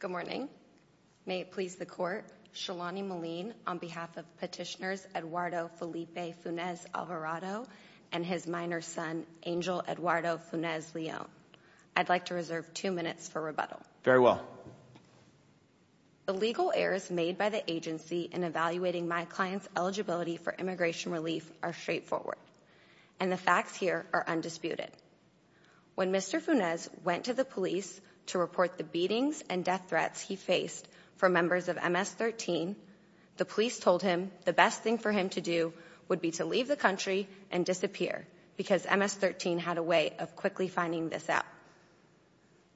Good morning. May it please the court. Shalani Malin on behalf of petitioners Eduardo Felipe Funez Alvarado and his minor son Angel Eduardo Funez Leon. I'd like to reserve two minutes for rebuttal. Very well. The legal errors made by the agency in evaluating my client's eligibility for immigration relief are straightforward and the facts here are undisputed. When Mr. Funez went to the police to report the beatings and death threats he faced for members of MS-13, the police told him the best thing for him to do would be to leave the country and disappear because MS-13 had a way of quickly finding this out.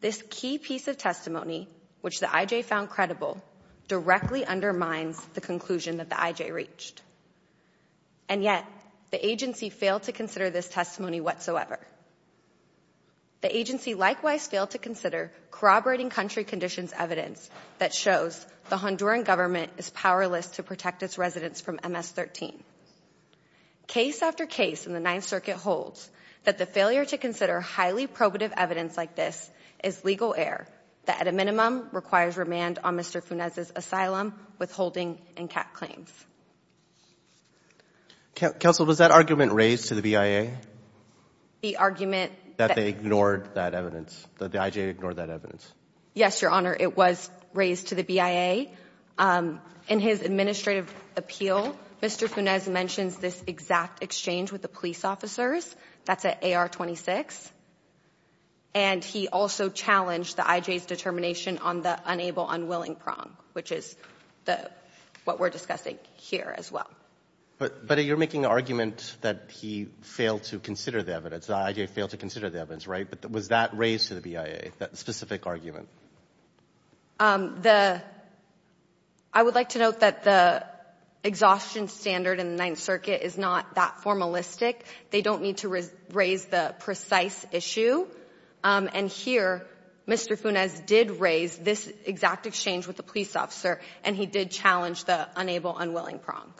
This key piece of testimony which the IJ found credible directly undermines the conclusion that the IJ reached and yet the agency failed to consider this testimony whatsoever. The agency likewise failed to consider corroborating country conditions evidence that shows the Honduran government is powerless to protect its residents from MS-13. Case after case in the Ninth Circuit holds that the failure to consider highly probative evidence like this is legal error that at a minimum requires remand on Mr. Funez's asylum withholding and CAT claims. Counsel, was that argument raised to the BIA? The argument that they ignored that evidence, that the IJ ignored that evidence? Yes, your honor, it was raised to the BIA. In his administrative appeal, Mr. Funez mentions this exact exchange with the police officers, that's at AR-26, and he also challenged the IJ's determination on the unable unwilling prong, which is the what we're discussing here as well. But you're making the argument that he failed to consider the evidence, the IJ failed to consider the evidence, right? But was that raised to the BIA, that specific argument? I would like to note that the exhaustion standard in the Ninth Circuit is not that formalistic. They don't need to raise the precise issue, and here Mr. Funez did raise this exact exchange with the police officer, and he did challenge the unable unwilling prong.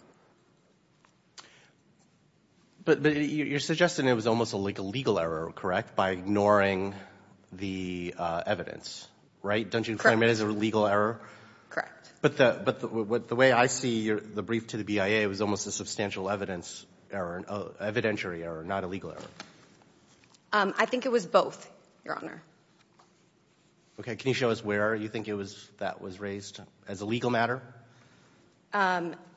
But you're suggesting it was almost like a legal error, correct, by ignoring the evidence, right? Don't you claim it as a legal error? Correct. But the way I see the brief to the BIA, it was almost a substantial evidence error, evidentiary error, not a legal error. I think it was both, Your Honor. Okay, can you show us where you think it was that was raised as a legal matter?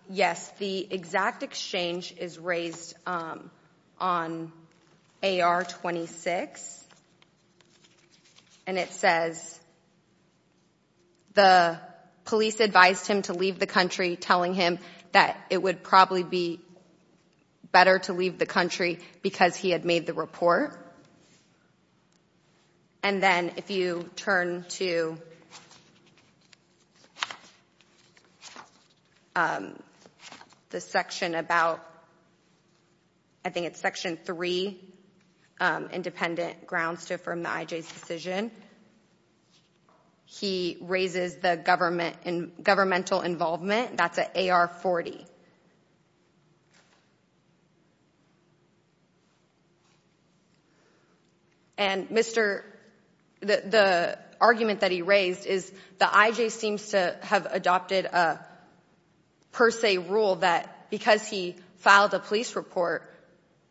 Yes, the exact exchange is raised on AR-26, and it says the police advised him to leave the country telling him that it would probably be better to leave the country because he had made the report. And then if you turn to the section about, I think it's section three, independent grounds to affirm the IJ's decision, he raises the government and governmental involvement. That's at AR-40. And Mr. the argument that he raised is the IJ seems to have adopted a per se rule that because he filed a police report,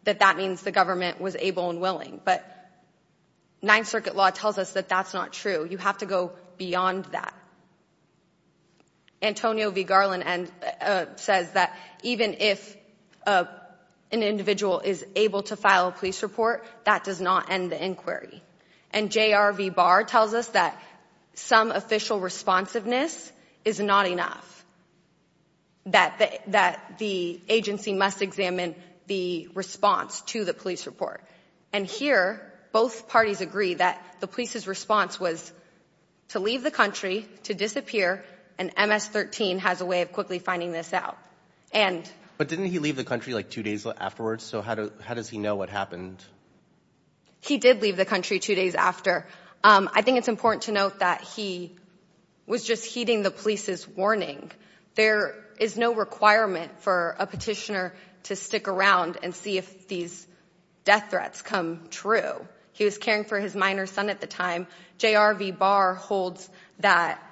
that that means the government was able and willing. But Ninth Circuit law tells us that that's not true. You have to go beyond that. Antonio V. Garland says that even if an individual is able to file a police report, that does not end the inquiry. And J.R. V. Barr tells us that some official responsiveness is not enough, that the agency must examine the response to the police report. And here, both parties agree that the police's response was to leave the country, to disappear, and MS-13 has a way of quickly finding this out. But didn't he leave the country like two days afterwards? So how does he know what happened? He did leave the country two days after. I think it's important to note that he was just heeding the police's warning. There is no requirement for a petitioner to stick around and see if these death threats come true. He was caring for his minor son at the time. J.R. V. Barr holds that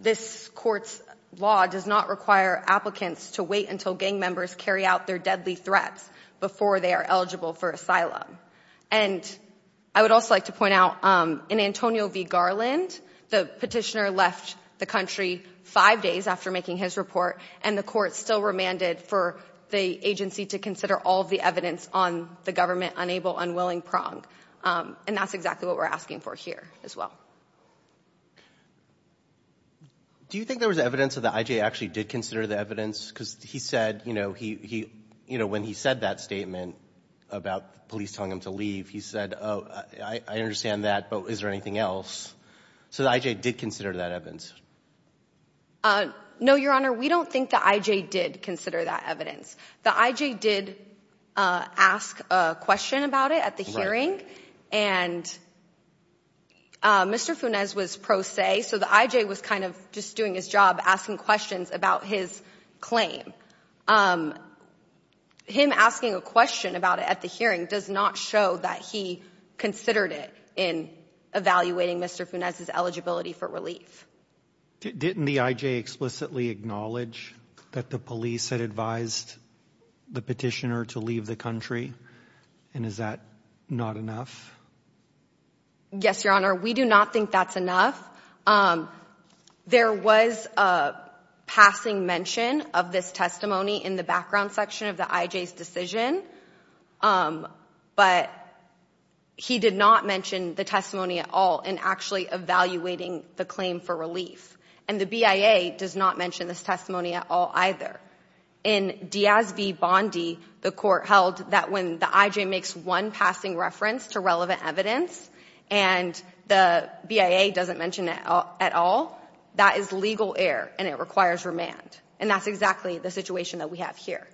this court's law does not require applicants to wait until gang members carry out their deadly threats before they are eligible for asylum. And I would also like to point out, in Antonio v. Garland, the petitioner left the country five days after making his report, and the court still remanded for the agency to consider all of the evidence on the government-unable, unwilling prong. And that's exactly what we're asking for here as well. Do you think there was evidence that the IJA actually did consider the evidence? Because he said, you know, when he said that statement about police telling him to leave, he said, I understand that, but is there anything else? So the IJA did consider that evidence? No, Your Honor, we don't think the IJA did consider that evidence. The IJA did ask a question about it at the hearing, and Mr. Funes was pro se, so the IJA was kind of just doing his job asking questions about his claim. Um, him asking a question about it at the hearing does not show that he considered it in evaluating Mr. Funes's eligibility for relief. Didn't the IJA explicitly acknowledge that the police had advised the petitioner to leave the country? And is that not enough? Yes, Your Honor, we do not think that's enough. There was a passing mention of this testimony in the background section of the IJA's decision, but he did not mention the testimony at all in actually evaluating the claim for relief. And the BIA does not mention this testimony at all either. In Diaz v. Bondi, the court held that when the IJA makes one passing reference to relevant evidence and the BIA doesn't mention it at all, that is legal error and it requires remand. And that's exactly the situation that we have here.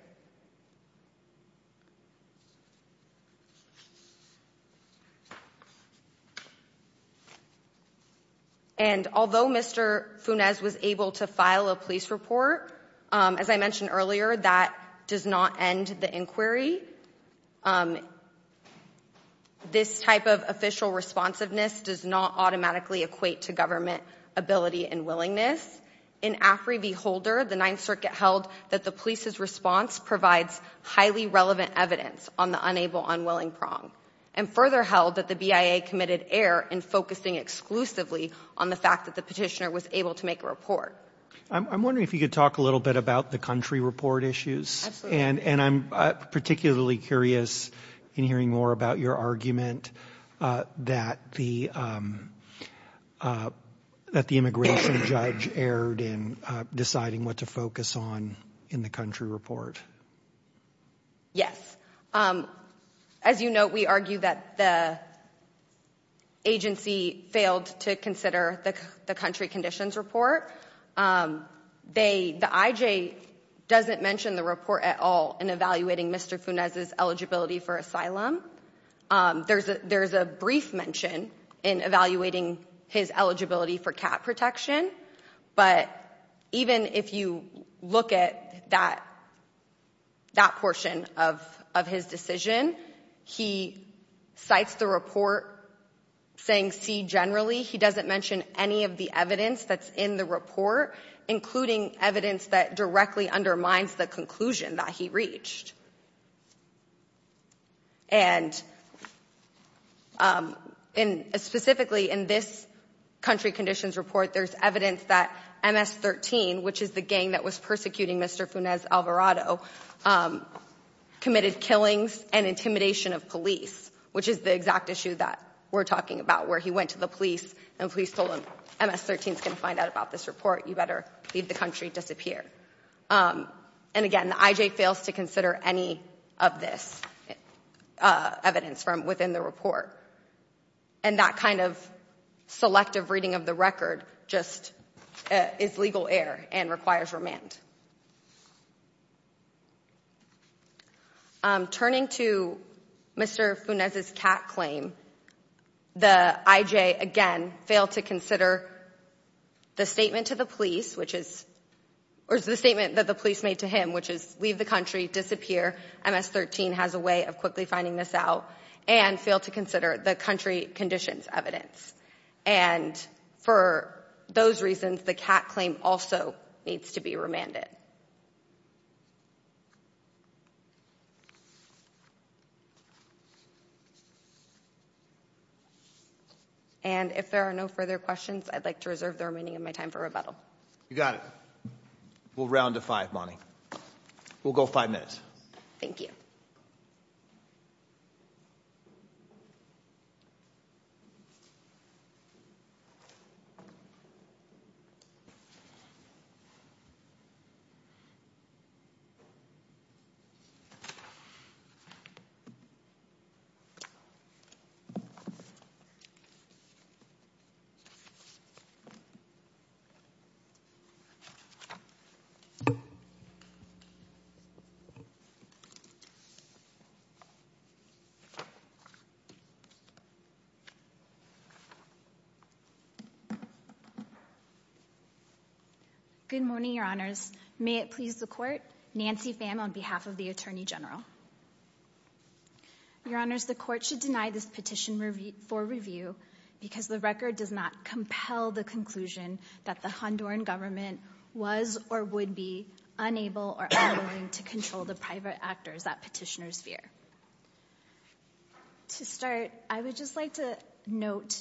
And although Mr. Funes was able to file a police report, as I mentioned earlier, that does not end the inquiry. This type of official responsiveness does not automatically equate to government ability and willingness. In Afri v. Holder, the Ninth Circuit held that the police's response provides highly relevant evidence on the unable unwilling prong, and further held that the BIA committed error in focusing exclusively on the fact that the petitioner was able to make a report. I'm wondering if you could talk a little bit about the country report issues. Absolutely. And I'm particularly curious in hearing more about your argument that the immigration judge erred in deciding what to focus on in the country report. Yes. As you note, we argue that the agency failed to consider the country conditions report. The IJ doesn't mention the report at all in evaluating Mr. Funes's eligibility for asylum. There's a brief mention in evaluating his eligibility for cat protection, but even if you look at that portion of his decision, he cites the report saying C generally. He doesn't mention any of the evidence that's in the report, including evidence that directly undermines the conclusion that he reached. And specifically in this country conditions report, there's evidence that MS-13, which is the gang that was persecuting Mr. Funes Alvarado, committed killings and intimidation of police, which is the exact issue that we're talking about, where he went to the police and police told him, MS-13 is going to find out about this report. You better leave the country, disappear. And again, the IJ fails to consider any of this evidence from within the report. And that kind of selective reading of the record just is legal air and requires remand. Turning to Mr. Funes's cat claim, the IJ again failed to consider the statement to the police, which is, or the statement that the police made to him, which is leave the country, disappear, MS-13 has a way of quickly finding this out, and failed to consider the country conditions evidence. And for those reasons, the cat claim also needs to be remanded. And if there are no further questions, I'd like to reserve the remaining of my time for rebuttal. You got it. We'll round to five, Bonnie. We'll go five minutes. Thank you. Good morning, your honors. May it please the court, Nancy Pham, on behalf of the attorney general. Your honors, the court should deny this petition for review because the record does not compel the conclusion that the Honduran government was or would be unable or unwilling to control the private sector. The record does not compel the conclusion that the Honduran government was or would be unable or unwilling to control the private actors that petitioners fear. To start, I would just like to note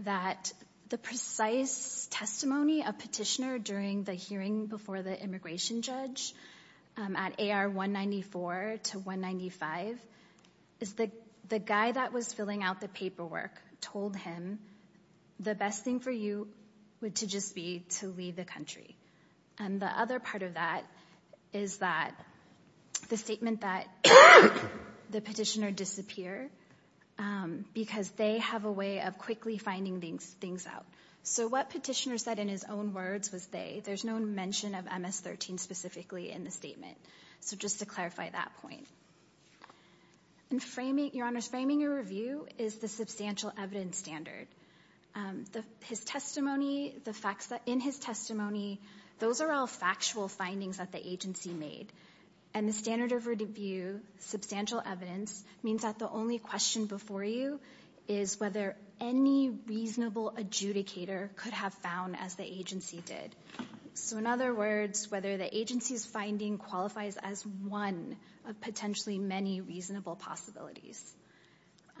that the precise testimony of petitioner during the hearing before the immigration judge at AR 194 to 195, is the guy that was filling out the paperwork told him the best thing for you would to just be to leave the country. And the other part of that is that the statement that the petitioner disappear because they have a way of quickly finding these things out. So what petitioner said in his own words was they, there's no mention of MS-13 specifically in the statement. So just to clarify that point. And framing, your honors, framing your review is the substantial evidence standard. His testimony, the facts in his testimony, those are all factual findings that the agency made. And the standard of review, substantial evidence, means that the only question before you is whether any reasonable adjudicator could have found as the agency did. So in other words, whether the agency's finding qualifies as a potentially many reasonable possibilities.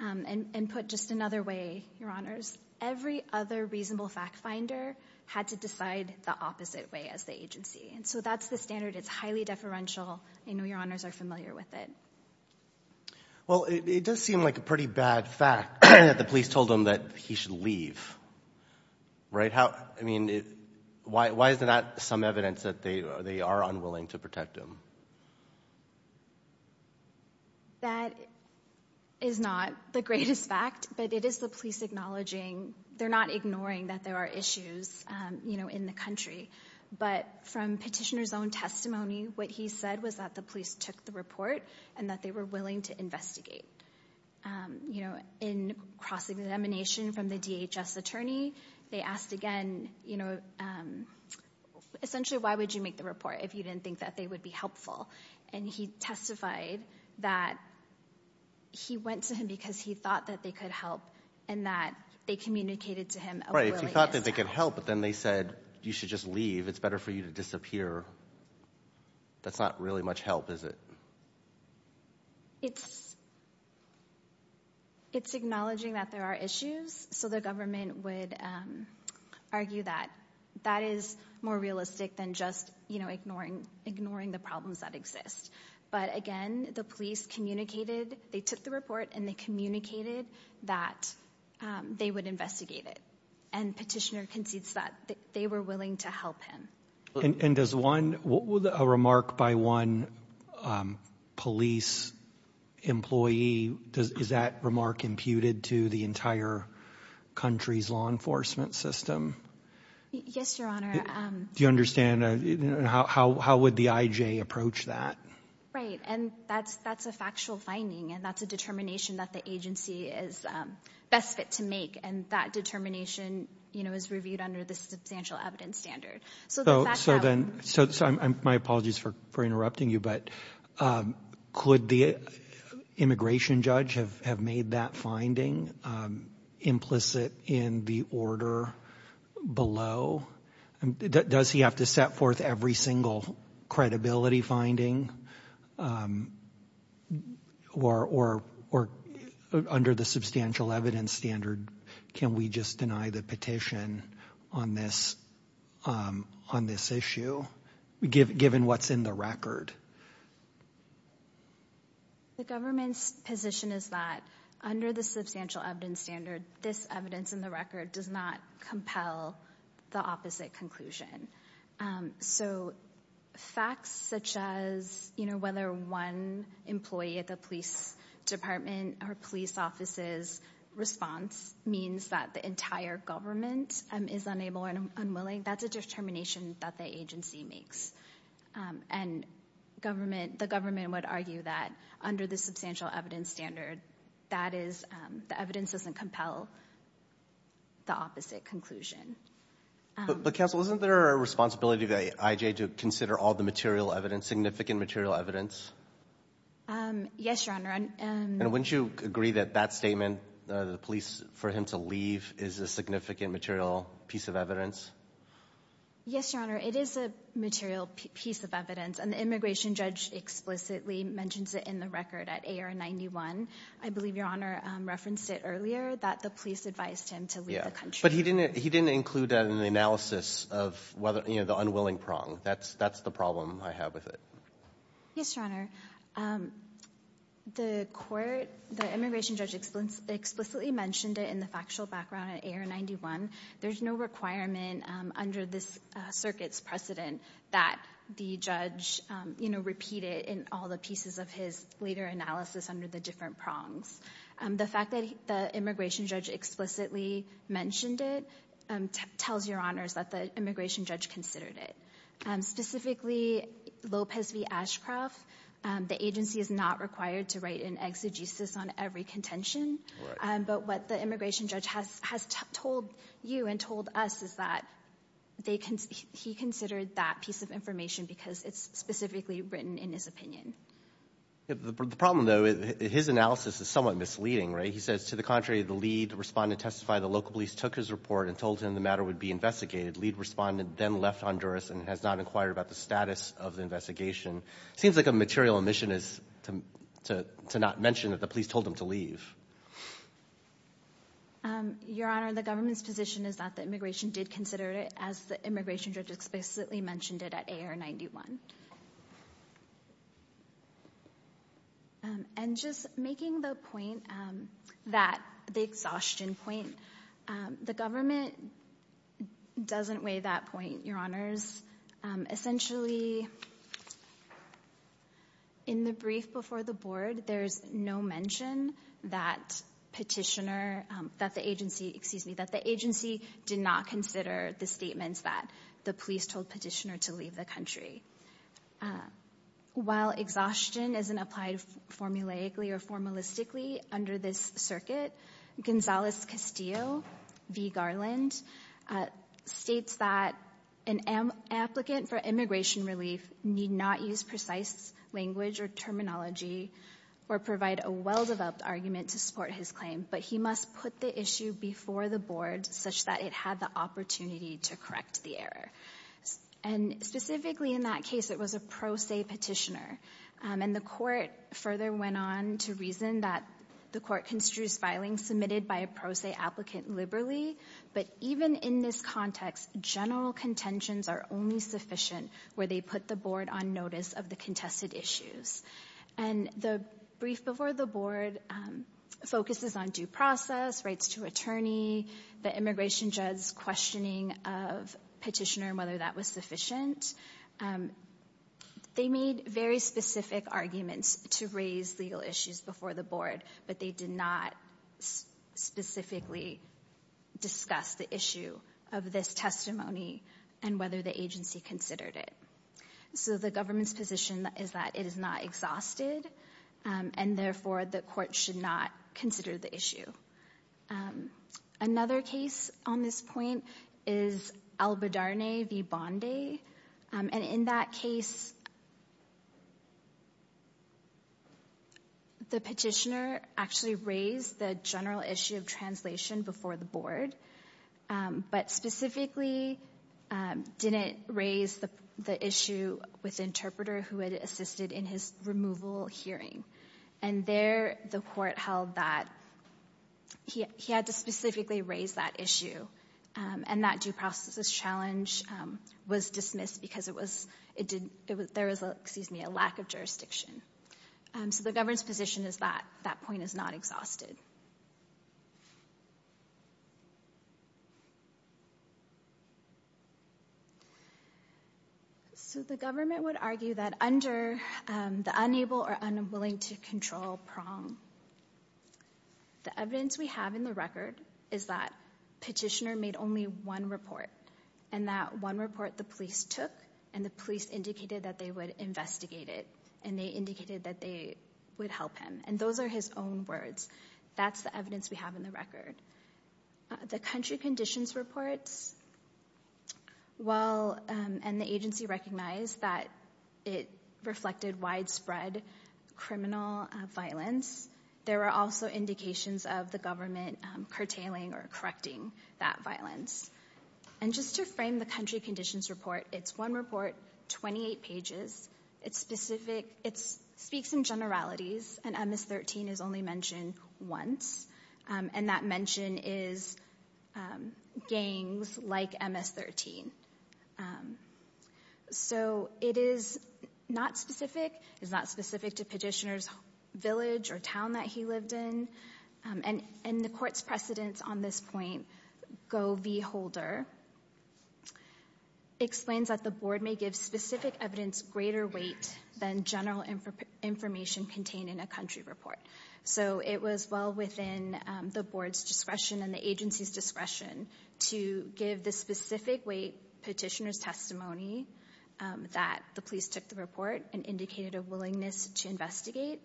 And put just another way, your honors, every other reasonable fact finder had to decide the opposite way as the agency. And so that's the standard. It's highly deferential. I know your honors are familiar with it. Well, it does seem like a pretty bad fact that the police told him that he should leave, right? How, I mean, why is that some evidence that they are unwilling to protect him? That is not the greatest fact, but it is the police acknowledging, they're not ignoring that there are issues, you know, in the country. But from petitioner's own testimony, what he said was that the police took the report and that they were willing to investigate. You know, in cross-examination from the DHS attorney, they asked again, you know, essentially, why would you make the report if you didn't think that they would be helpful? And he testified that he went to him because he thought that they could help and that they communicated to him a willingness to help. Right, he thought that they could help, but then they said you should just leave. It's better for you to disappear. That's not really much help, is it? It's, it's acknowledging that there are issues, so the government would argue that that is more realistic than just, you know, ignoring, ignoring the problems that exist. But again, the police communicated, they took the report and they communicated that they would investigate it. And petitioner concedes that they were willing to help him. And does one, a remark by one police employee, does, is that remark imputed to the entire country's law enforcement system? Yes, your honor. Do you understand how, how would the IJ approach that? Right, and that's, that's a factual finding and that's a determination that the agency is best fit to make. And that determination, you know, is reviewed under the substantial evidence standard. So, so then, so, so I'm, my apologies for, for interrupting you, but could the immigration judge have, have made that finding implicit in the order below? Does he have to set forth every single credibility finding or, or, or under the substantial evidence standard, can we just deny the petition on this, on this issue, given what's in the record? The government's position is that under the substantial evidence standard, this evidence in the record does not compel the opposite conclusion. So facts such as, you know, whether one employee at the police department or police office's response means that the entire government is unable and unwilling, that's a determination that the agency makes. And government, the government would argue that under the substantial evidence standard, that is, the evidence doesn't compel the opposite conclusion. But, but counsel, isn't there a responsibility of the IJ to consider all the material evidence, significant material evidence? Yes, your honor. And wouldn't you agree that that statement, the police, for him to leave is a significant material piece of evidence? Yes, your honor, it is a material piece of evidence and the immigration judge explicitly mentions it in the record at AR-91. I believe your honor referenced it earlier that the police advised him to leave the country. But he didn't, he didn't include that in the analysis of whether, you know, the unwilling prong. That's, that's the problem I have with it. Yes, your honor, the court, the immigration judge explicitly mentioned it in the factual background at AR-91. There's no requirement under this circuit's precedent that the judge, you know, repeat it in all the pieces of his later analysis under the different prongs. The fact that the immigration judge explicitly mentioned it tells your honors that the immigration judge considered it. Specifically, Lopez v. Ashcroft, the agency is not required to write an exegesis on every contention. But what the immigration judge has, has told you and told us is that they can, he considered that piece of information because it's specifically written in his opinion. The problem though, his analysis is somewhat misleading, right? He says, to the contrary, the lead respondent testified the local police took his report and told him the matter would be investigated. Lead respondent then left Honduras and has not inquired about the status of the investigation. Seems like a material omission is to, to not mention that the police told him to leave. Your honor, the government's position is that the immigration did consider it as the immigration judge explicitly mentioned it at AR-91. And just making the point that, the exhaustion point, the government doesn't weigh that point, your honors. Essentially, in the brief before the board, there's no mention that petitioner, that the agency, excuse me, that the agency did not consider the statements that the police told the petitioner to leave the country. While exhaustion isn't applied formulaically or formalistically under this circuit, Gonzales Castillo v. Garland states that an applicant for immigration relief need not use precise language or terminology or provide a well-developed argument to support his claim, but he must put the issue before the board such that it had the opportunity to correct the And specifically in that case, it was a pro se petitioner. And the court further went on to reason that the court construes filing submitted by a pro se applicant liberally. But even in this context, general contentions are only sufficient where they put the board on notice of the contested issues. And the brief before the board focuses on due process, rights to attorney, the immigration questioning of petitioner and whether that was sufficient. They made very specific arguments to raise legal issues before the board, but they did not specifically discuss the issue of this testimony and whether the agency considered it. So the government's position is that it is not exhausted, and therefore the court should not consider the issue. Another case on this point is Albedarne v. Bondi. And in that case, the petitioner actually raised the general issue of translation before the board, but specifically didn't raise the issue with interpreter who had assisted in his removal hearing. And there, the court held that he had to specifically raise that issue. And that due processes challenge was dismissed because there was a lack of jurisdiction. So the government's position is that that point is not exhausted. So the government would argue that under the unable or unwilling to control prong, the evidence we have in the record is that petitioner made only one report. And that one report the police took, and the police indicated that they would investigate it. And they indicated that they would help him. And those are his own words. That's the evidence we have in the record. The country conditions reports, well, and the agency recognized that it reflected widespread criminal violence. There were also indications of the government curtailing or correcting that violence. And just to frame the country conditions report, it's one report, 28 pages. It's specific. It speaks in generalities. And MS-13 is only mentioned once. And that mention is gangs like MS-13. So it is not specific. It's not specific to petitioner's village or town that he lived in. And the court's precedence on this point, Go V. Holder, explains that the board may give specific evidence greater weight than general information contained in a country report. So it was well within the board's discretion and the agency's discretion to give the specific weight petitioner's testimony that the police took the report and indicated a willingness to investigate,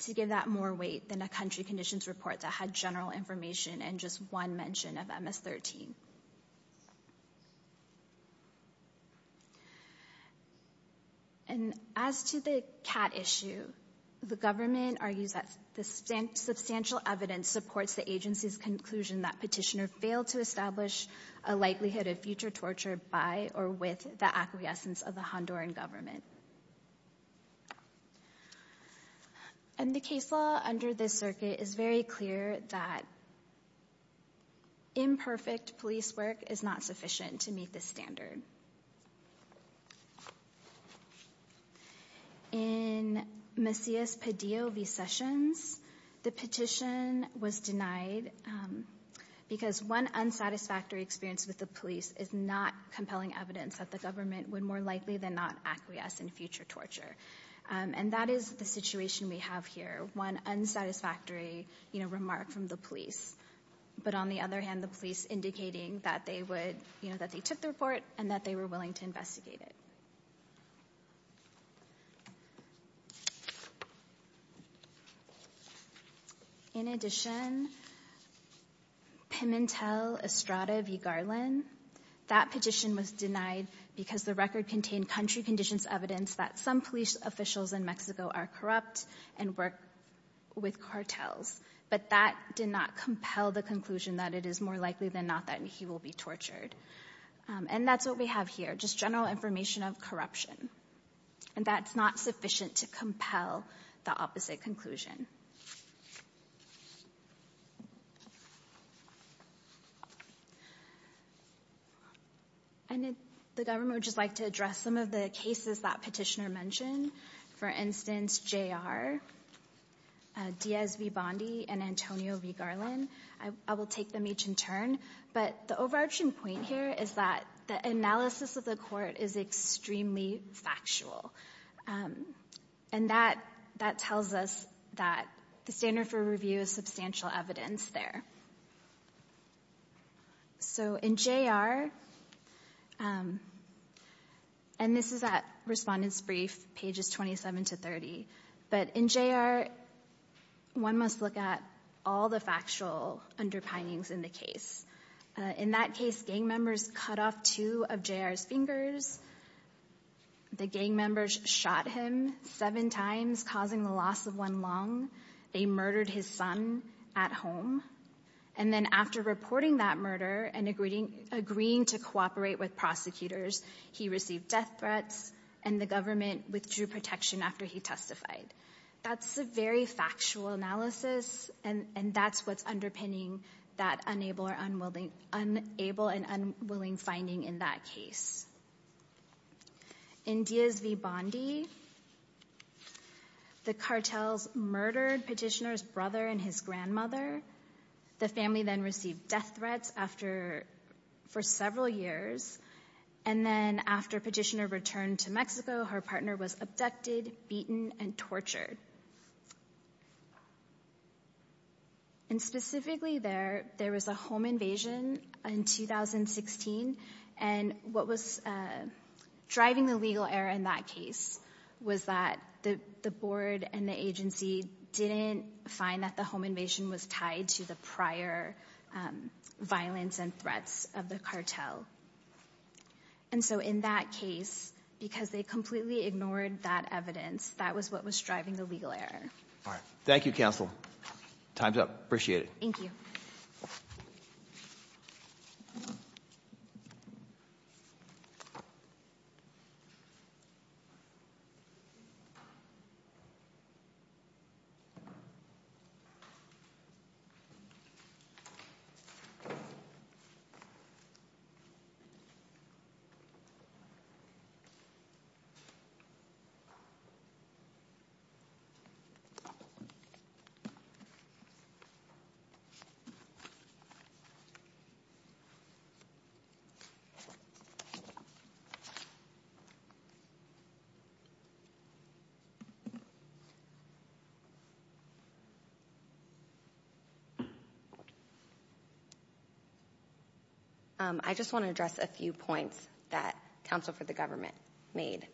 to give that more weight than a country conditions report that had general information and just one of MS-13. And as to the cat issue, the government argues that the substantial evidence supports the agency's conclusion that petitioner failed to establish a likelihood of future torture by or with the acquiescence of the Honduran government. And the case law under this circuit is very clear that imperfect police work is not sufficient to meet this standard. In Macias Padilla v. Sessions, the petition was denied because one unsatisfactory experience with the police is not compelling evidence that the government would more likely than not acquiesce in future torture. And that is the situation we have here, one unsatisfactory remark from the police. But on the other hand, the police indicating that they took the report and that they were willing to investigate it. In addition, Pimentel Estrada v. Garland, that petition was denied because the record contained country conditions evidence that some police officials in Mexico are corrupt and work with cartels. But that did not compel the conclusion that it is more likely than not that he will be tortured. And that's what we have here, just general information of corruption. And that's not sufficient to compel the opposite conclusion. And the government would just like to address some of the cases that petitioner mentioned. For instance, J.R., Diaz v. Bondi, and Antonio v. Garland. I will take them each in turn. But the overarching point here is that the analysis of the court is extremely factual. And that tells us that the standard for review is substantial evidence there. So in J.R., and this is at Respondent's Brief, pages 27 to 30. But in J.R., one must look at all the factual underpinnings in the case. In that case, gang members cut off two of J.R.'s fingers. The gang members shot him seven times, causing the loss of one lung. They murdered his son at home. And then after reporting that murder and agreeing to cooperate with prosecutors, he received death threats. And the government withdrew protection after he testified. That's a very factual analysis. And that's what's underpinning that unable and unwilling finding in that case. In Diaz v. Bondi, the cartels murdered petitioner's brother and his grandmother. The family then received death threats after, for several years. And then after petitioner returned to Mexico, her partner was abducted, beaten, and tortured. And specifically there, there was a home invasion in 2016. And what was driving the legal error in that case was that the board and the agency didn't find that the home invasion was tied to the prior violence and threats of the cartel. And so in that case, because they completely ignored that evidence, that was what was driving the legal error. All right. Thank you, counsel. Time's up. Appreciate it. Thank you. I just want to address a few points that counsel for the government made.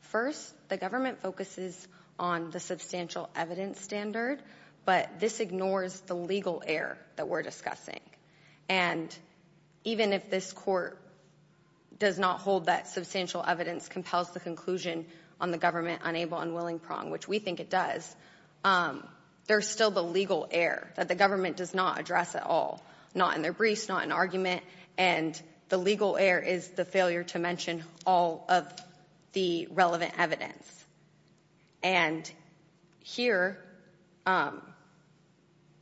First, the government focuses on the substantial evidence standard, but this ignores the legal error that we're discussing. And even if this court does not hold that substantial evidence compels the conclusion on the government unable and unwilling prong, which we think it does, there's still the legal error that the government does not address at all, not in their briefs, not in argument. And the legal error is the failure to mention all of the relevant evidence. And here, the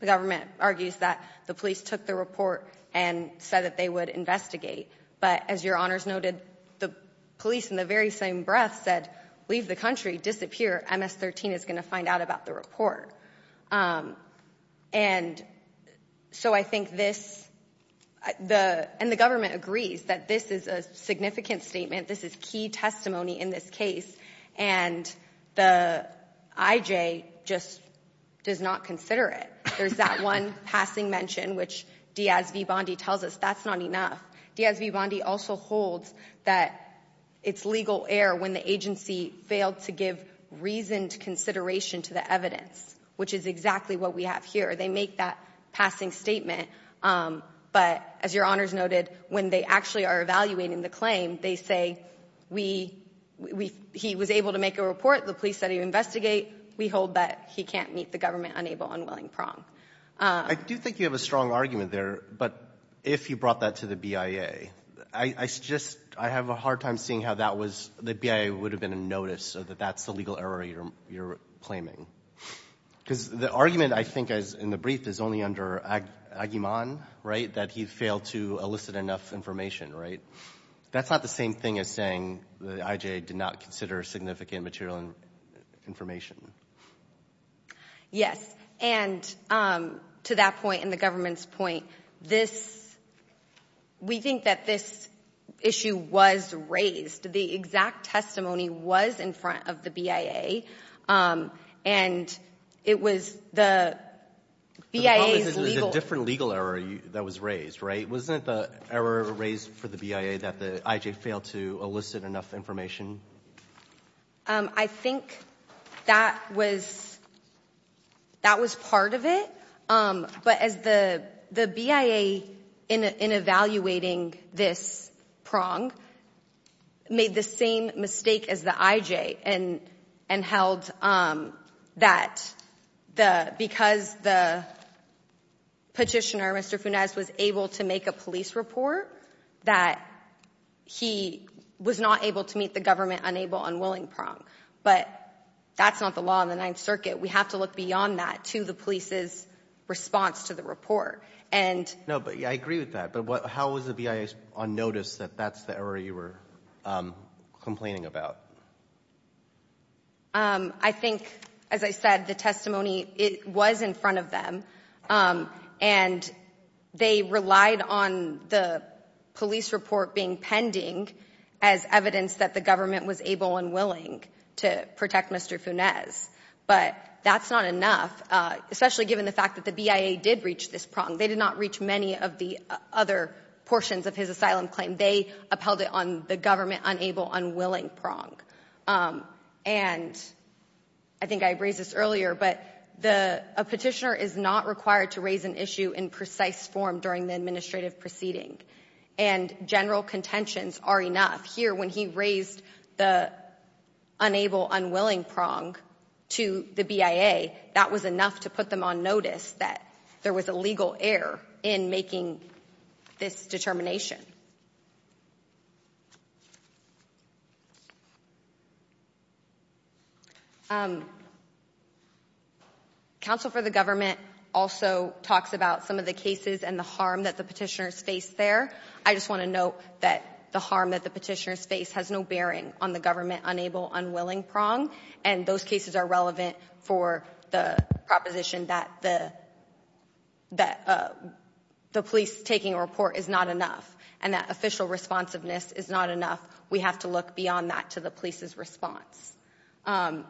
government argues that the police took the report and said that they would investigate. But as your honors noted, the police in the very same breath said, leave the country, disappear. MS-13 is going to find out about the report. And so I think this, and the government agrees that this is a significant statement. This is key testimony in this case. And the IJ just does not consider it. There's that one passing mention, which Diaz v. Bondi tells us that's not enough. Diaz v. Bondi also holds that it's legal error when the agency failed to give reasoned consideration to the evidence, which is exactly what we have here. They make that passing statement. But as your honors noted, when they actually are evaluating the claim, they say, we, we, he was able to make a report, the police said he would investigate. We hold that he can't meet the government-unable, unwilling prong. I do think you have a strong argument there. But if you brought that to the IJ, it would have been a notice, so that that's the legal error you're, you're claiming. Because the argument I think is, in the brief, is only under Aguiman, right? That he failed to elicit enough information, right? That's not the same thing as saying the IJ did not consider significant material information. MS-13 Yes. And to that point, and the government's point, this, we think that this issue was raised. The exact testimony was in front of the BIA. And it was the BIA's legal— MR. BARROWS The problem is it was a different legal error that was raised, right? Wasn't it the error raised for the BIA that the IJ failed to elicit enough information? MS-13 In evaluating this prong, the BIA made the same mistake as the IJ and held that because the petitioner, Mr. Funes, was able to make a police report, that he was not able to meet the government-unable, unwilling prong. But that's not the law in the Ninth Circuit. We have to look beyond that to the police's response to the report. And— MR. BARROWS No, but I agree with that. But how was the BIA on notice that that's the error you were complaining about? MS-13 I think, as I said, the testimony, it was in front of them. And they relied on the police report being pending as evidence that the government was able and willing to protect Mr. Funes. But that's not enough, especially given the fact that the BIA did reach this prong. They did not reach many of the other portions of his asylum claim. They upheld it on the government-unable, unwilling prong. And I think I raised this earlier, but a petitioner is not required to raise an issue in precise form during the administrative proceeding. And general contentions are enough. Here, when he raised the unable, unwilling prong to the BIA, that was enough to put them on notice that there was a legal error in making this determination. Counsel for the government also talks about some of the cases and the harm that the petitioners face there. I just want to note that the harm that the petitioners face has no bearing on the government-unable, unwilling prong. And those cases are relevant for the proposition that the police taking a report is not enough and that official responsiveness is not enough. We have to look beyond that to the police's response.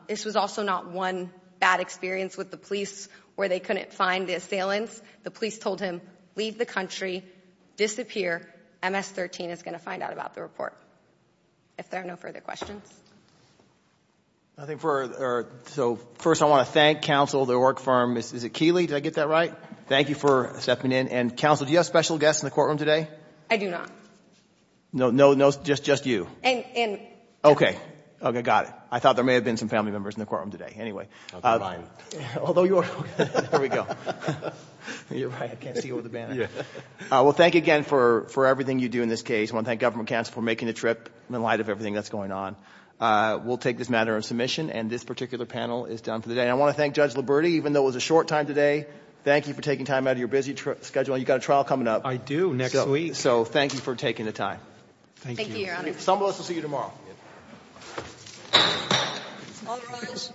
This was also not one bad experience with the police where they couldn't find the assailants. The police told him, leave the country, disappear. MS-13 is going to find out about the report, if there are no further questions. So first, I want to thank counsel, the work firm. Is it Keeley? Did I get that right? Thank you for stepping in. And counsel, do you have special guests in the courtroom today? I do not. No, just you. Okay. Okay, got it. I thought there may have been some family members in the courtroom today. Anyway, although you are, there we go. I can't see over the banner. Well, thank you again for everything you do in this case. I want to thank government counsel for making the trip in light of everything that's going on. We'll take this matter of submission and this particular panel is done for the day. I want to thank Judge Liberti, even though it was a short time today, thank you for taking time out of your busy schedule. You've got a trial coming up. I do, next week. So thank you for taking the time. Thank you, Your Honor. Some of us will see you tomorrow. All rise.